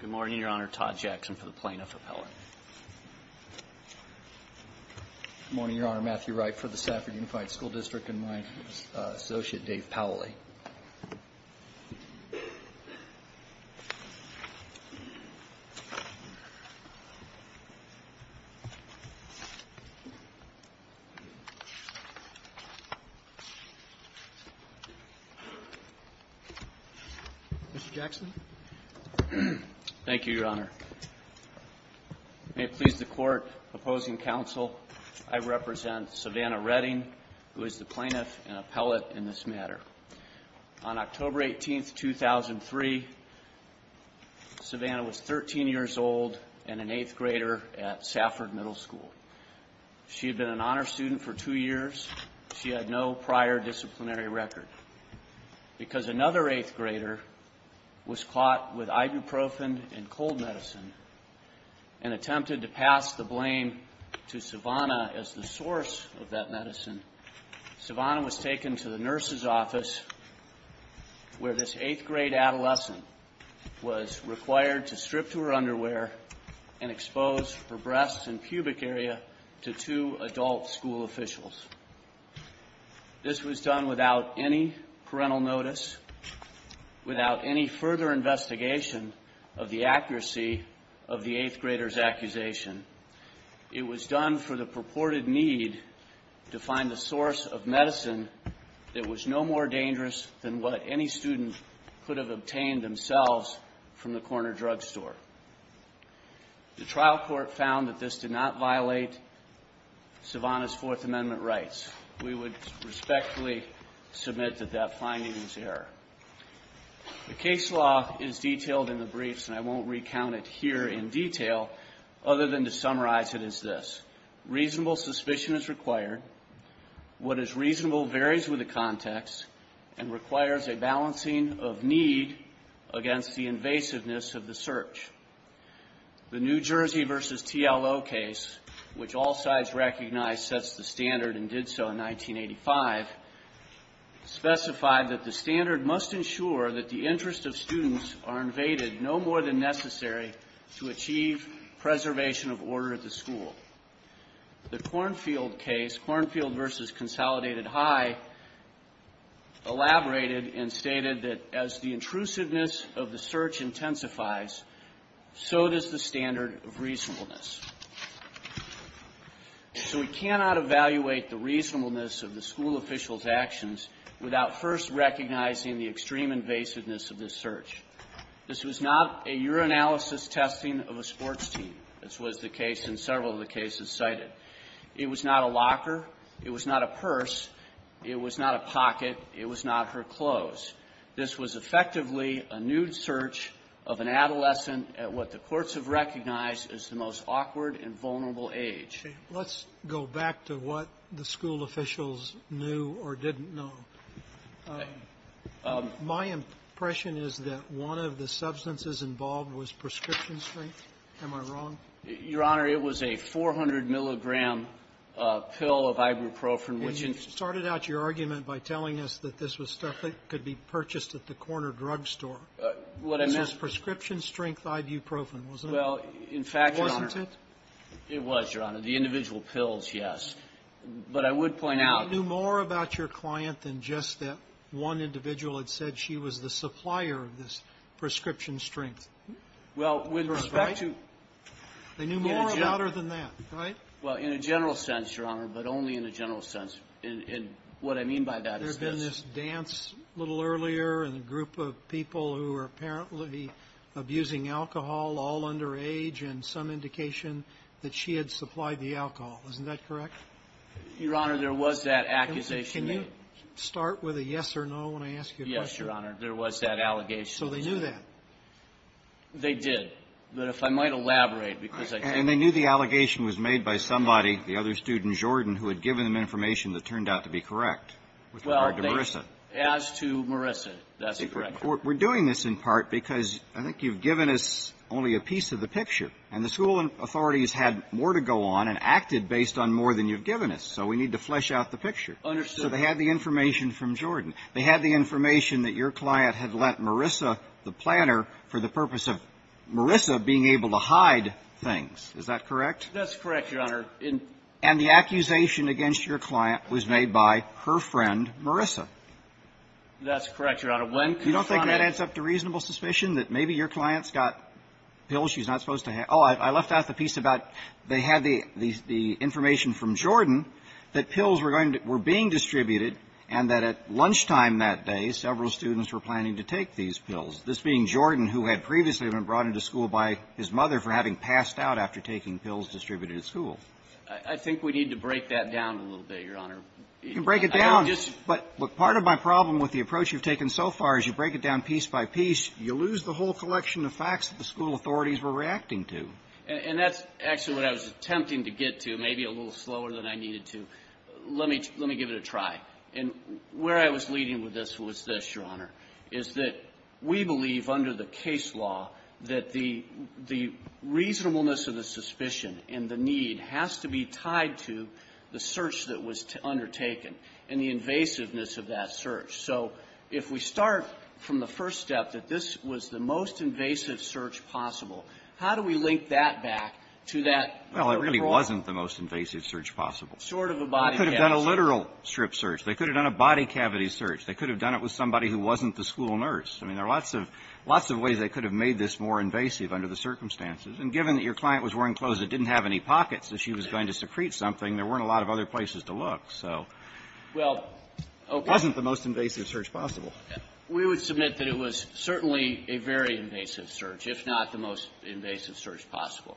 Good morning, Your Honor. Todd Jackson for the plaintiff appellate. Good morning, Your Honor. Matthew Wright for the Safford Unified School District and my associate, Dave Powley. Mr. Jackson. May it please the Court, opposing counsel, I represent Savannah Redding, who is the plaintiff and appellate in this matter. On October 18, 2003, Savannah was 13 years old and an eighth grader at Safford Middle School. She had been an honor student for two years. She had no prior disciplinary record. Because another eighth grader was caught with ibuprofen and cold medicine and attempted to pass the blame to Savannah as the source of that medicine, Savannah was taken to the nurse's office, where this eighth grade adolescent was required to strip to her underwear and expose her breasts and pubic area to two adult school officials. This was done without any parental notice, without any further investigation of the accuracy of the eighth grader's accusation. It was done for the purported need to find the source of medicine that was no more dangerous than what any student could have obtained themselves from the corner drugstore. The trial court found that this did not violate Savannah's Fourth Amendment rights. We would respectfully submit that that finding is error. The case law is detailed in the briefs, and I won't recount it here in detail, other than to summarize it as this. The New Jersey v. TLO case, which all sides recognize sets the standard and did so in 1985, specified that the standard must ensure that the interests of students are invaded no more than necessary to achieve preservation of order at the school. The Kornfield case, Kornfield v. Consolidated High, elaborated and stated that as the intrusiveness of the search intensifies, so does the standard of reasonableness. So we cannot evaluate the reasonableness of the school officials' actions without first recognizing the extreme invasiveness of this search. This was not a urinalysis testing of a sports team. This was the case in several of the cases cited. It was not a locker. It was not a purse. It was not a pocket. It was not her clothes. This was effectively a nude search of an adolescent at what the courts have recognized as the most awkward and vulnerable age. Sotomayor, let's go back to what the school officials knew or didn't know. My impression is that one of the substances involved was prescription-strength. Am I wrong? Your Honor, it was a 400-milligram pill of ibuprofen, which in the ---- And you started out your argument by telling us that this was stuff that could be purchased at the corner drugstore. What I meant ---- It was prescription-strength ibuprofen, wasn't it? Well, in fact, Your Honor ---- Wasn't it? It was, Your Honor. The individual pills, yes. But I would point out ---- They knew more about your client than just that one individual had said she was the supplier of this prescription-strength. Well, with respect to ---- Right? They knew more about her than that, right? Well, in a general sense, Your Honor, but only in a general sense. And what I mean by that is this ---- that she had supplied the alcohol. Isn't that correct? Your Honor, there was that accusation made. Can you start with a yes or no when I ask you a question? Yes, Your Honor. There was that allegation. So they knew that? They did. But if I might elaborate, because I can't ---- And they knew the allegation was made by somebody, the other student, Jordan, who had given them information that turned out to be correct with regard to Marissa. Well, they ---- as to Marissa, that's correct. We're doing this in part because I think you've given us only a piece of the picture. And the school authorities had more to go on and acted based on more than you've given us. So we need to flesh out the picture. Understood. So they had the information from Jordan. They had the information that your client had let Marissa, the planner, for the purpose of Marissa being able to hide things. Is that correct? That's correct, Your Honor. And the accusation against your client was made by her friend, Marissa. That's correct, Your Honor. When ---- You don't think that adds up to reasonable suspicion that maybe your client's got pills she's not supposed to have? Oh, I left out the piece about they had the information from Jordan that pills were going to ---- were being distributed and that at lunchtime that day, several students were planning to take these pills, this being Jordan, who had previously been brought into school by his mother for having passed out after taking pills distributed at school. I think we need to break that down a little bit, Your Honor. You can break it down. But part of my problem with the approach you've taken so far is you break it down piece by piece, you lose the whole collection of facts that the school authorities were reacting to. And that's actually what I was attempting to get to, maybe a little slower than I needed to. Let me give it a try. And where I was leading with this was this, Your Honor, is that we believe under the case law that the reasonableness of the suspicion and the need has to be tied to the search that was undertaken and the invasiveness of that search. So if we start from the first step that this was the most invasive search possible, how do we link that back to that? Well, it really wasn't the most invasive search possible. Sort of a body cavity. They could have done a literal strip search. They could have done a body cavity search. They could have done it with somebody who wasn't the school nurse. I mean, there are lots of ways they could have made this more invasive under the circumstances. And given that your client was wearing clothes that didn't have any pockets that she was going to secrete something, there weren't a lot of other places to look. So it wasn't the most invasive search possible. We would submit that it was certainly a very invasive search, if not the most invasive search possible.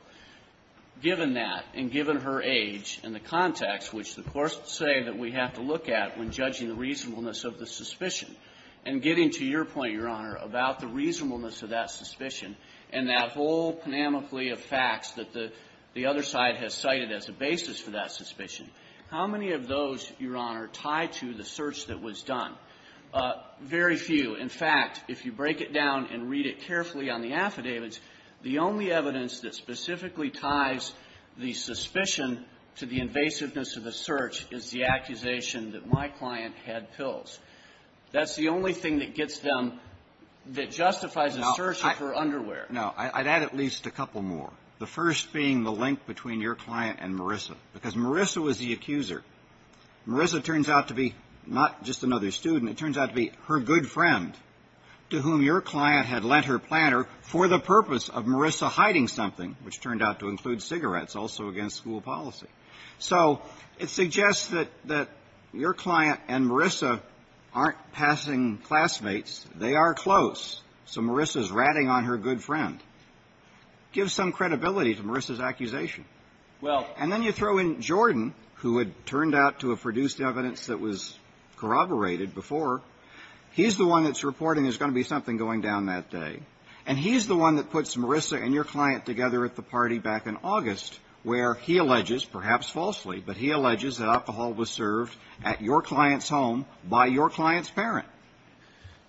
Given that, and given her age and the context, which the courts say that we have to look at when judging the reasonableness of the suspicion, and getting to your point, Your Honor, about the reasonableness of that suspicion and that whole panoply of facts that the other side has cited as a basis for that suspicion, how many of those, Your Honor, tie to the search that was done? Very few. In fact, if you break it down and read it carefully on the affidavits, the only evidence that specifically ties the suspicion to the invasiveness of the search is the accusation that my client had pills. That's the only thing that gets them that justifies a search of her underwear. No. I'd add at least a couple more. The first being the link between your client and Marissa, because Marissa was the accuser. Marissa turns out to be not just another student. It turns out to be her good friend to whom your client had lent her platter for the purpose of Marissa hiding something, which turned out to include cigarettes, also against school policy. So it suggests that your client and Marissa aren't passing classmates. They are close. So Marissa is ratting on her good friend. Gives some credibility to Marissa's accusation. And then you throw in Jordan, who had turned out to have produced evidence that was corroborated before. He's the one that's reporting there's going to be something going down that day. And he's the one that puts Marissa and your client together at the party back in August, where he alleges, perhaps falsely, but he alleges that alcohol was served at your client's home by your client's parent.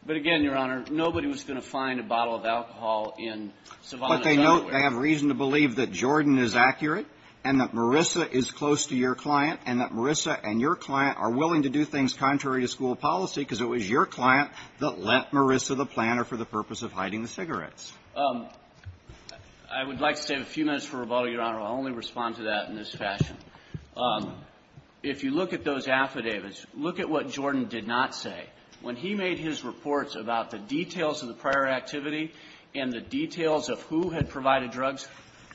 But again, Your Honor, nobody was going to find a bottle of alcohol in Savannah's underwear. But they know they have reason to believe that Jordan is accurate and that Marissa is close to your client and that Marissa and your client are willing to do things contrary to school policy because it was your client that lent Marissa the platter for the purpose of hiding the cigarettes. I would like to save a few minutes for rebuttal, Your Honor. I'll only respond to that in this fashion. If you look at those affidavits, look at what Jordan did not say. When he made his reports about the details of the prior activity and the details of who had provided drugs,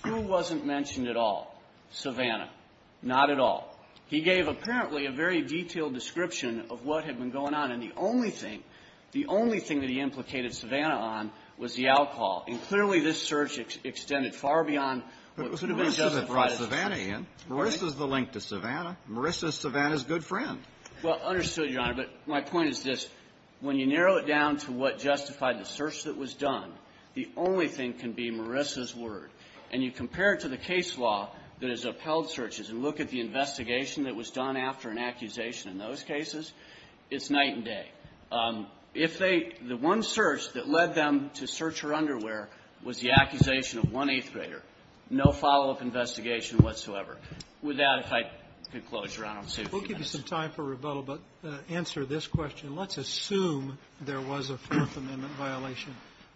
who wasn't mentioned at all? Savannah. Not at all. He gave, apparently, a very detailed description of what had been going on. And the only thing, the only thing that he implicated Savannah on was the alcohol. And clearly, this search extended far beyond what's been justified as a search. But Marissa's the link to Savannah. Marissa's Savannah's good friend. Well, understood, Your Honor. But my point is this. When you narrow it down to what justified the search that was done, the only thing can be Marissa's word. And you compare it to the case law that has upheld searches and look at the investigation that was done after an accusation in those cases, it's night and day. If they the one search that led them to search her underwear was the accusation of one eighth grader, no follow-up investigation whatsoever. With that, if I could close, Your Honor, I'm safe to ask. We'll give you some time for rebuttal, but answer this question. Let's assume there was a Fourth Amendment violation.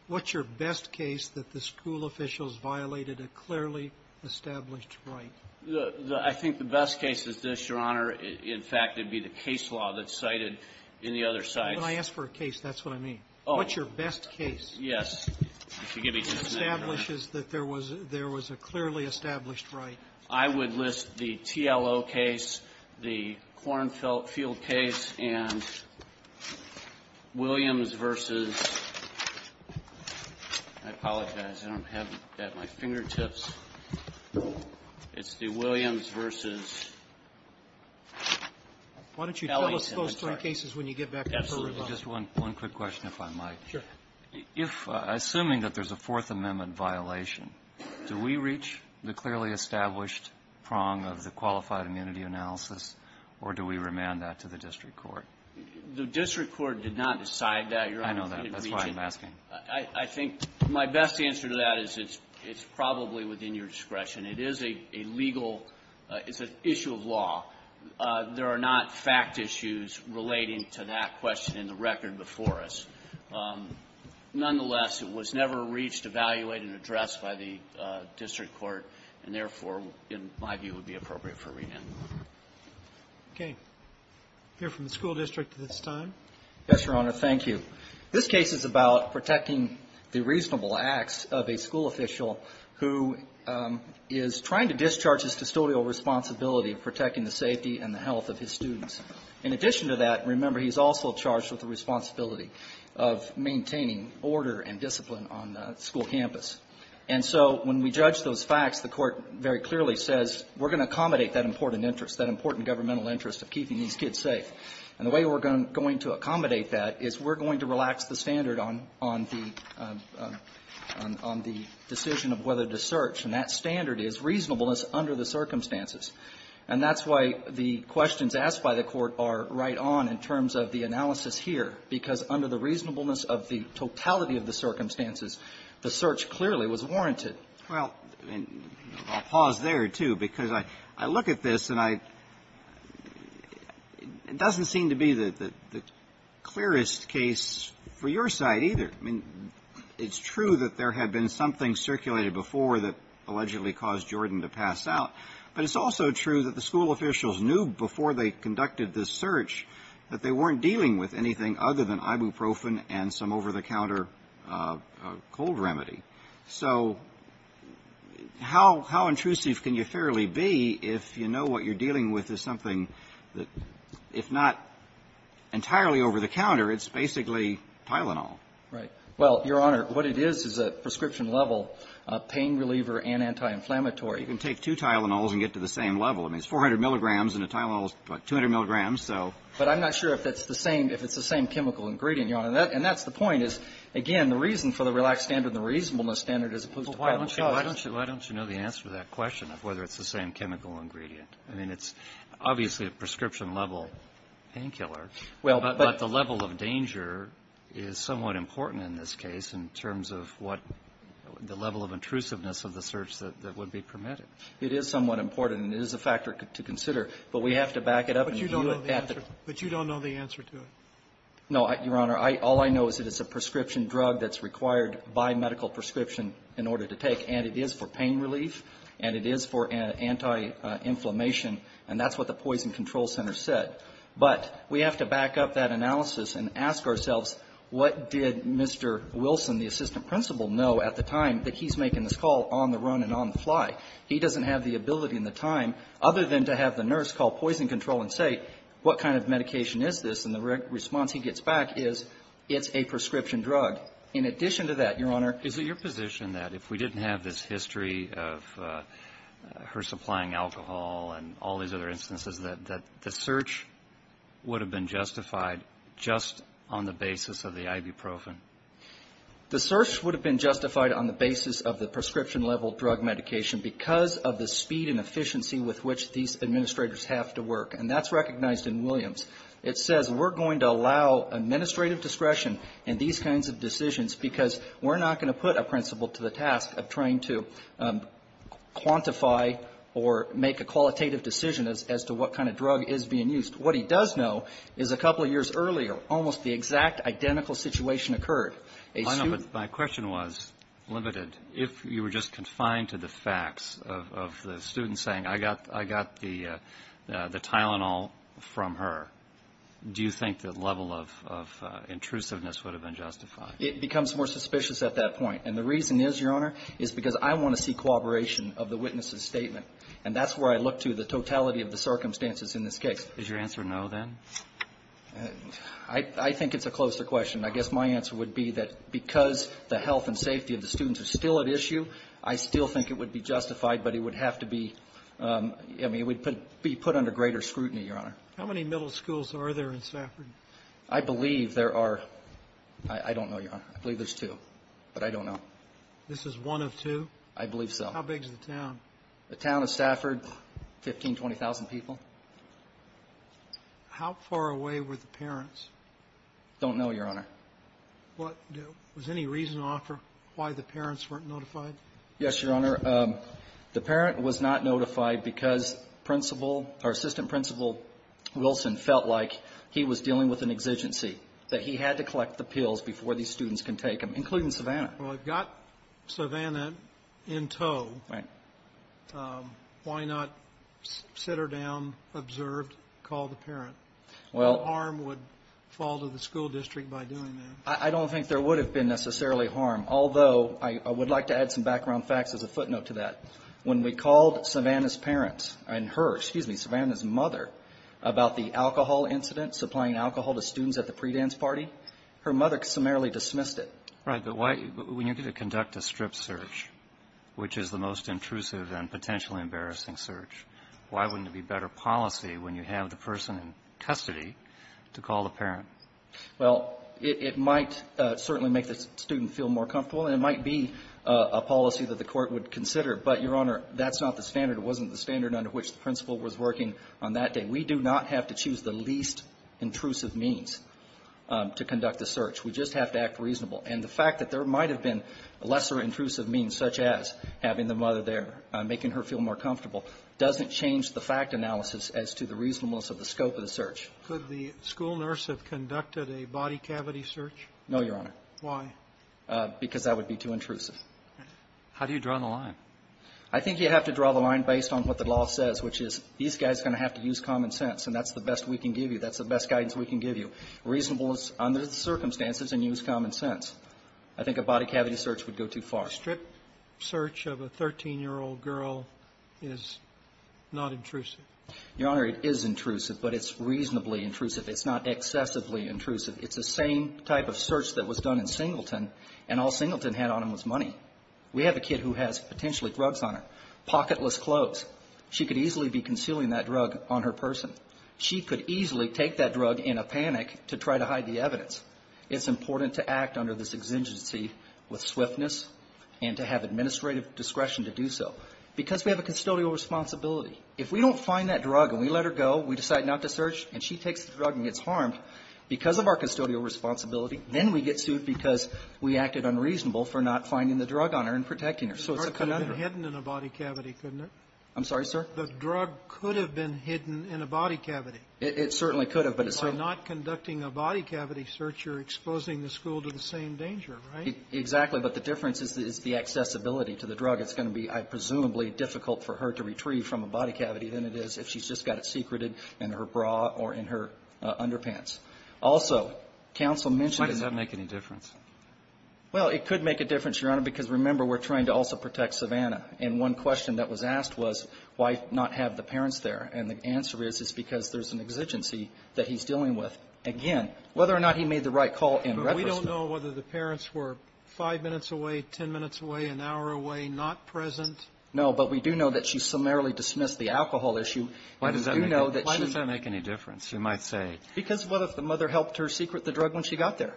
What's your best case that the school officials violated a clearly established right? I think the best case is this, Your Honor. In fact, it would be the case law that's cited in the other sites. When I ask for a case, that's what I mean. Oh. What's your best case? If you give me just a minute, Your Honor. Establishes that there was a clearly established right. I would list the TLO case, the Kornfield case, and Williams v. I apologize. I don't have it at my fingertips. It's the Williams v. Ellington. Why don't you tell us those three cases when you get back to us for rebuttal? Absolutely. Just one quick question, if I might. Sure. If, assuming that there's a Fourth Amendment violation, do we reach the clearly established prong of the qualified immunity analysis, or do we remand that to the district court? The district court did not decide that, Your Honor. I know that. That's why I'm asking. I think my best answer to that is it's probably within your discretion. It is a legal issue of law. There are not fact issues relating to that question in the record before us. Nonetheless, it was never reached, evaluated, and addressed by the district court, and therefore, in my view, would be appropriate for remand. Okay. We'll hear from the school district at this time. Yes, Your Honor. Thank you. This case is about protecting the reasonable acts of a school official who is trying to discharge his custodial responsibility of protecting the safety and the health of his students. In addition to that, remember, he's also charged with the responsibility of maintaining order and discipline on the school campus. And so when we judge those facts, the Court very clearly says we're going to accommodate that important interest, that important governmental interest of keeping these kids safe. And the way we're going to accommodate that is we're going to relax the standard on the decision of whether to search. And that standard is reasonableness under the circumstances. And that's why the questions asked by the Court are right on in terms of the analysis here, because under the reasonableness of the totality of the circumstances, the search clearly was warranted. Well, and I'll pause there, too, because I look at this and I don't seem to be the clearest case for your side either. I mean, it's true that there had been something circulated before that allegedly caused Jordan to pass out. But it's also true that the school officials knew before they conducted this search that they weren't dealing with anything other than ibuprofen and some over-the-counter cold remedy. So how intrusive can you fairly be if you know what you're dealing with is something that, if not entirely over-the-counter, it's basically Tylenol? Right. Well, Your Honor, what it is is a prescription-level pain reliever and anti-inflammatory. You can take two Tylenols and get to the same level. I mean, it's 400 milligrams and a Tylenol is, what, 200 milligrams, so. But I'm not sure if it's the same chemical ingredient, Your Honor. And that's the point, is, again, the reason for the relaxed standard and the reasonableness standard as opposed to final cause. Well, why don't you know the answer to that question of whether it's the same chemical ingredient? I mean, it's obviously a prescription-level painkiller. Well, but the level of danger is somewhat important in this case in terms of what the level of intrusiveness of the search that would be permitted. It is somewhat important. It is a factor to consider. But we have to back it up. But you don't know the answer. But you don't know the answer to it. No, Your Honor. All I know is that it's a prescription drug that's required by medical prescription in order to take. And it is for pain relief. And it is for anti-inflammation. And that's what the Poison Control Center said. But we have to back up that analysis and ask ourselves, what did Mr. Wilson, the assistant principal, know at the time that he's making this call on the run and on the fly? He doesn't have the ability and the time, other than to have the nurse call Poison Control and say, what kind of medication is this? And the response he gets back is, it's a prescription drug. In addition to that, Your Honor ---- Is it your position that if we didn't have this history of her supplying alcohol and all these other instances, that the search would have been justified just on the basis of the ibuprofen? The search would have been justified on the basis of the prescription-level drug medication because of the speed and efficiency with which these administrators have to work. And that's recognized in Williams. It says we're going to allow administrative discretion in these kinds of decisions because we're not going to put a principal to the task of trying to quantify or make a qualitative decision as to what kind of drug is being used. What he does know is a couple of years earlier, almost the exact identical situation occurred. A suit ---- of the students saying, I got the Tylenol from her. Do you think the level of intrusiveness would have been justified? It becomes more suspicious at that point. And the reason is, Your Honor, is because I want to see cooperation of the witness's statement. And that's where I look to the totality of the circumstances in this case. Is your answer no, then? I think it's a closer question. I guess my answer would be that because the health and safety of the students is still at issue, I still think it would be justified. But it would have to be ---- I mean, it would be put under greater scrutiny, Your Honor. How many middle schools are there in Stafford? I believe there are ---- I don't know, Your Honor. I believe there's two. But I don't know. This is one of two? I believe so. How big is the town? The town of Stafford, 15,000, 20,000 people. How far away were the parents? Don't know, Your Honor. Was there any reason offered why the parents weren't notified? Yes, Your Honor. The parent was not notified because Principal or Assistant Principal Wilson felt like he was dealing with an exigency, that he had to collect the pills before these students can take them, including Savannah. Well, if you've got Savannah in tow, why not sit her down, observed, call the parent? Well ---- I don't think harm would fall to the school district by doing that. I don't think there would have been necessarily harm, although I would like to add some background facts as a footnote to that. When we called Savannah's parents, and her, excuse me, Savannah's mother, about the alcohol incident, supplying alcohol to students at the pre-dance party, her mother summarily dismissed it. Right. But why ---- when you're going to conduct a strip search, which is the most intrusive and potentially embarrassing search, why wouldn't it be better policy when you have the person in custody to call the parent? Well, it might certainly make the student feel more comfortable, and it might be a policy that the Court would consider, but, Your Honor, that's not the standard. It wasn't the standard under which the principal was working on that day. We do not have to choose the least intrusive means to conduct the search. We just have to act reasonable. And the fact that there might have been lesser intrusive means, such as having the mother there, making her feel more comfortable, doesn't change the fact analysis as to the reasonableness of the scope of the search. Could the school nurse have conducted a body cavity search? No, Your Honor. Why? Because that would be too intrusive. How do you draw the line? I think you have to draw the line based on what the law says, which is these guys are going to have to use common sense, and that's the best we can give you. That's the best guidance we can give you. Reasonable is under the circumstances and use common sense. I think a body cavity search would go too far. A strip search of a 13-year-old girl is not intrusive. Your Honor, it is intrusive, but it's reasonably intrusive. It's not excessively intrusive. It's the same type of search that was done in Singleton, and all Singleton had on him was money. We have a kid who has potentially drugs on her, pocketless clothes. She could easily be concealing that drug on her person. She could easily take that drug in a panic to try to hide the evidence. It's important to act under this exigency with swiftness and to have administrative discretion to do so, because we have a custodial responsibility. If we don't find that drug and we let her go, we decide not to search, and she takes the drug and gets harmed because of our custodial responsibility, then we get sued because we acted unreasonable for not finding the drug on her and protecting her. So it's a conundrum. It could have been hidden in a body cavity, couldn't it? I'm sorry, sir? The drug could have been hidden in a body cavity. It certainly could have, but it's a ---- By not conducting a body cavity search, you're exposing the school to the same danger, right? But the difference is the accessibility to the drug. It's going to be, I presumably, difficult for her to retrieve from a body cavity than it is if she's just got it secreted in her bra or in her underpants. Also, counsel mentioned the ---- Why does that make any difference? Well, it could make a difference, Your Honor, because, remember, we're trying to also protect Savannah. And one question that was asked was why not have the parents there? And the answer is it's because there's an exigency that he's dealing with. Again, whether or not he made the right call in retrospect ---- We don't know whether the parents were five minutes away, ten minutes away, an hour away, not present. No, but we do know that she summarily dismissed the alcohol issue. And we do know that she ---- Why does that make any difference? You might say ---- Because what if the mother helped her secret the drug when she got there?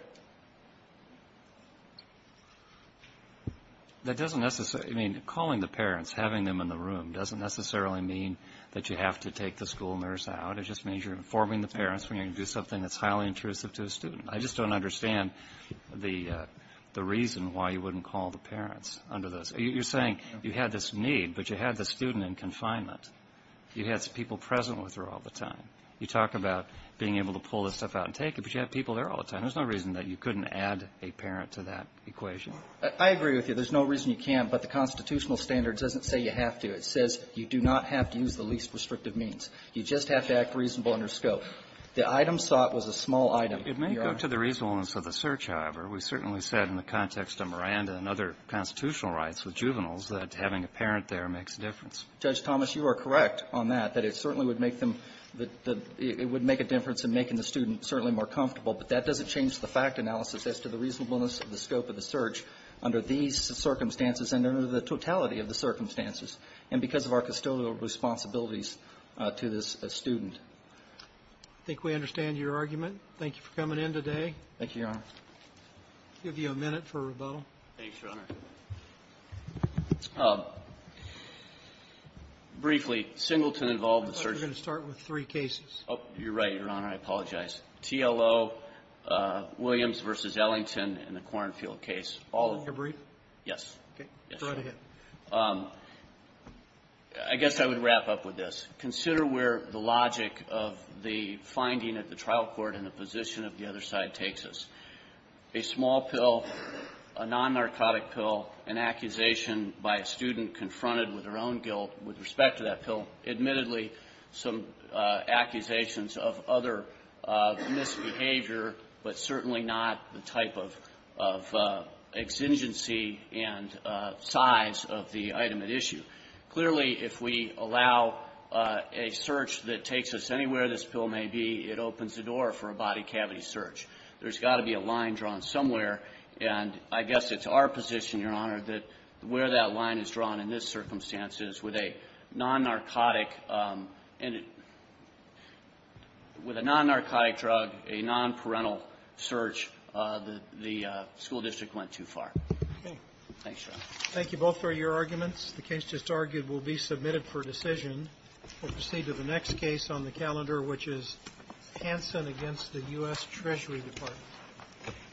That doesn't necessarily ---- I mean, calling the parents, having them in the room, doesn't necessarily mean that you have to take the school nurse out. It just means you're informing the parents when you're going to do something that's the reason why you wouldn't call the parents under this. You're saying you had this need, but you had the student in confinement. You had people present with her all the time. You talk about being able to pull this stuff out and take it, but you have people there all the time. There's no reason that you couldn't add a parent to that equation. I agree with you. There's no reason you can't. But the constitutional standard doesn't say you have to. It says you do not have to use the least restrictive means. You just have to act reasonable under scope. The item sought was a small item, Your Honor. It may go to the reasonableness of the search, however. We certainly said in the context of Miranda and other constitutional rights with juveniles that having a parent there makes a difference. Judge Thomas, you are correct on that, that it certainly would make them the ---- it would make a difference in making the student certainly more comfortable. But that doesn't change the fact analysis as to the reasonableness of the scope of the search under these circumstances and under the totality of the circumstances and because of our custodial responsibilities to this student. I think we understand your argument. Thank you for coming in today. Thank you, Your Honor. I'll give you a minute for rebuttal. Thanks, Your Honor. Briefly, Singleton involved the search. I thought you were going to start with three cases. Oh, you're right, Your Honor. I apologize. TLO, Williams v. Ellington, and the Cornfield case. All of them. All of them? Go right ahead. I guess I would wrap up with this. Consider where the logic of the finding at the trial court and the position of the other side takes us. A small pill, a non-narcotic pill, an accusation by a student confronted with her own guilt with respect to that pill, admittedly some accusations of other misbehavior, but certainly not the type of exigency and size of the item at issue. Clearly, if we allow a search that takes us anywhere this pill may be, it opens the door for a body cavity search. There's got to be a line drawn somewhere, and I guess it's our position, Your Honor, that where that line is drawn in this circumstance is with a non-narcotic and with a non-narcotic drug, a non-parental search, the school district went too far. Okay. Thanks, Your Honor. Thank you both for your arguments. The case just argued will be submitted for decision. We'll proceed to the next case on the calendar, which is Hansen against the U.S. Treasury Department.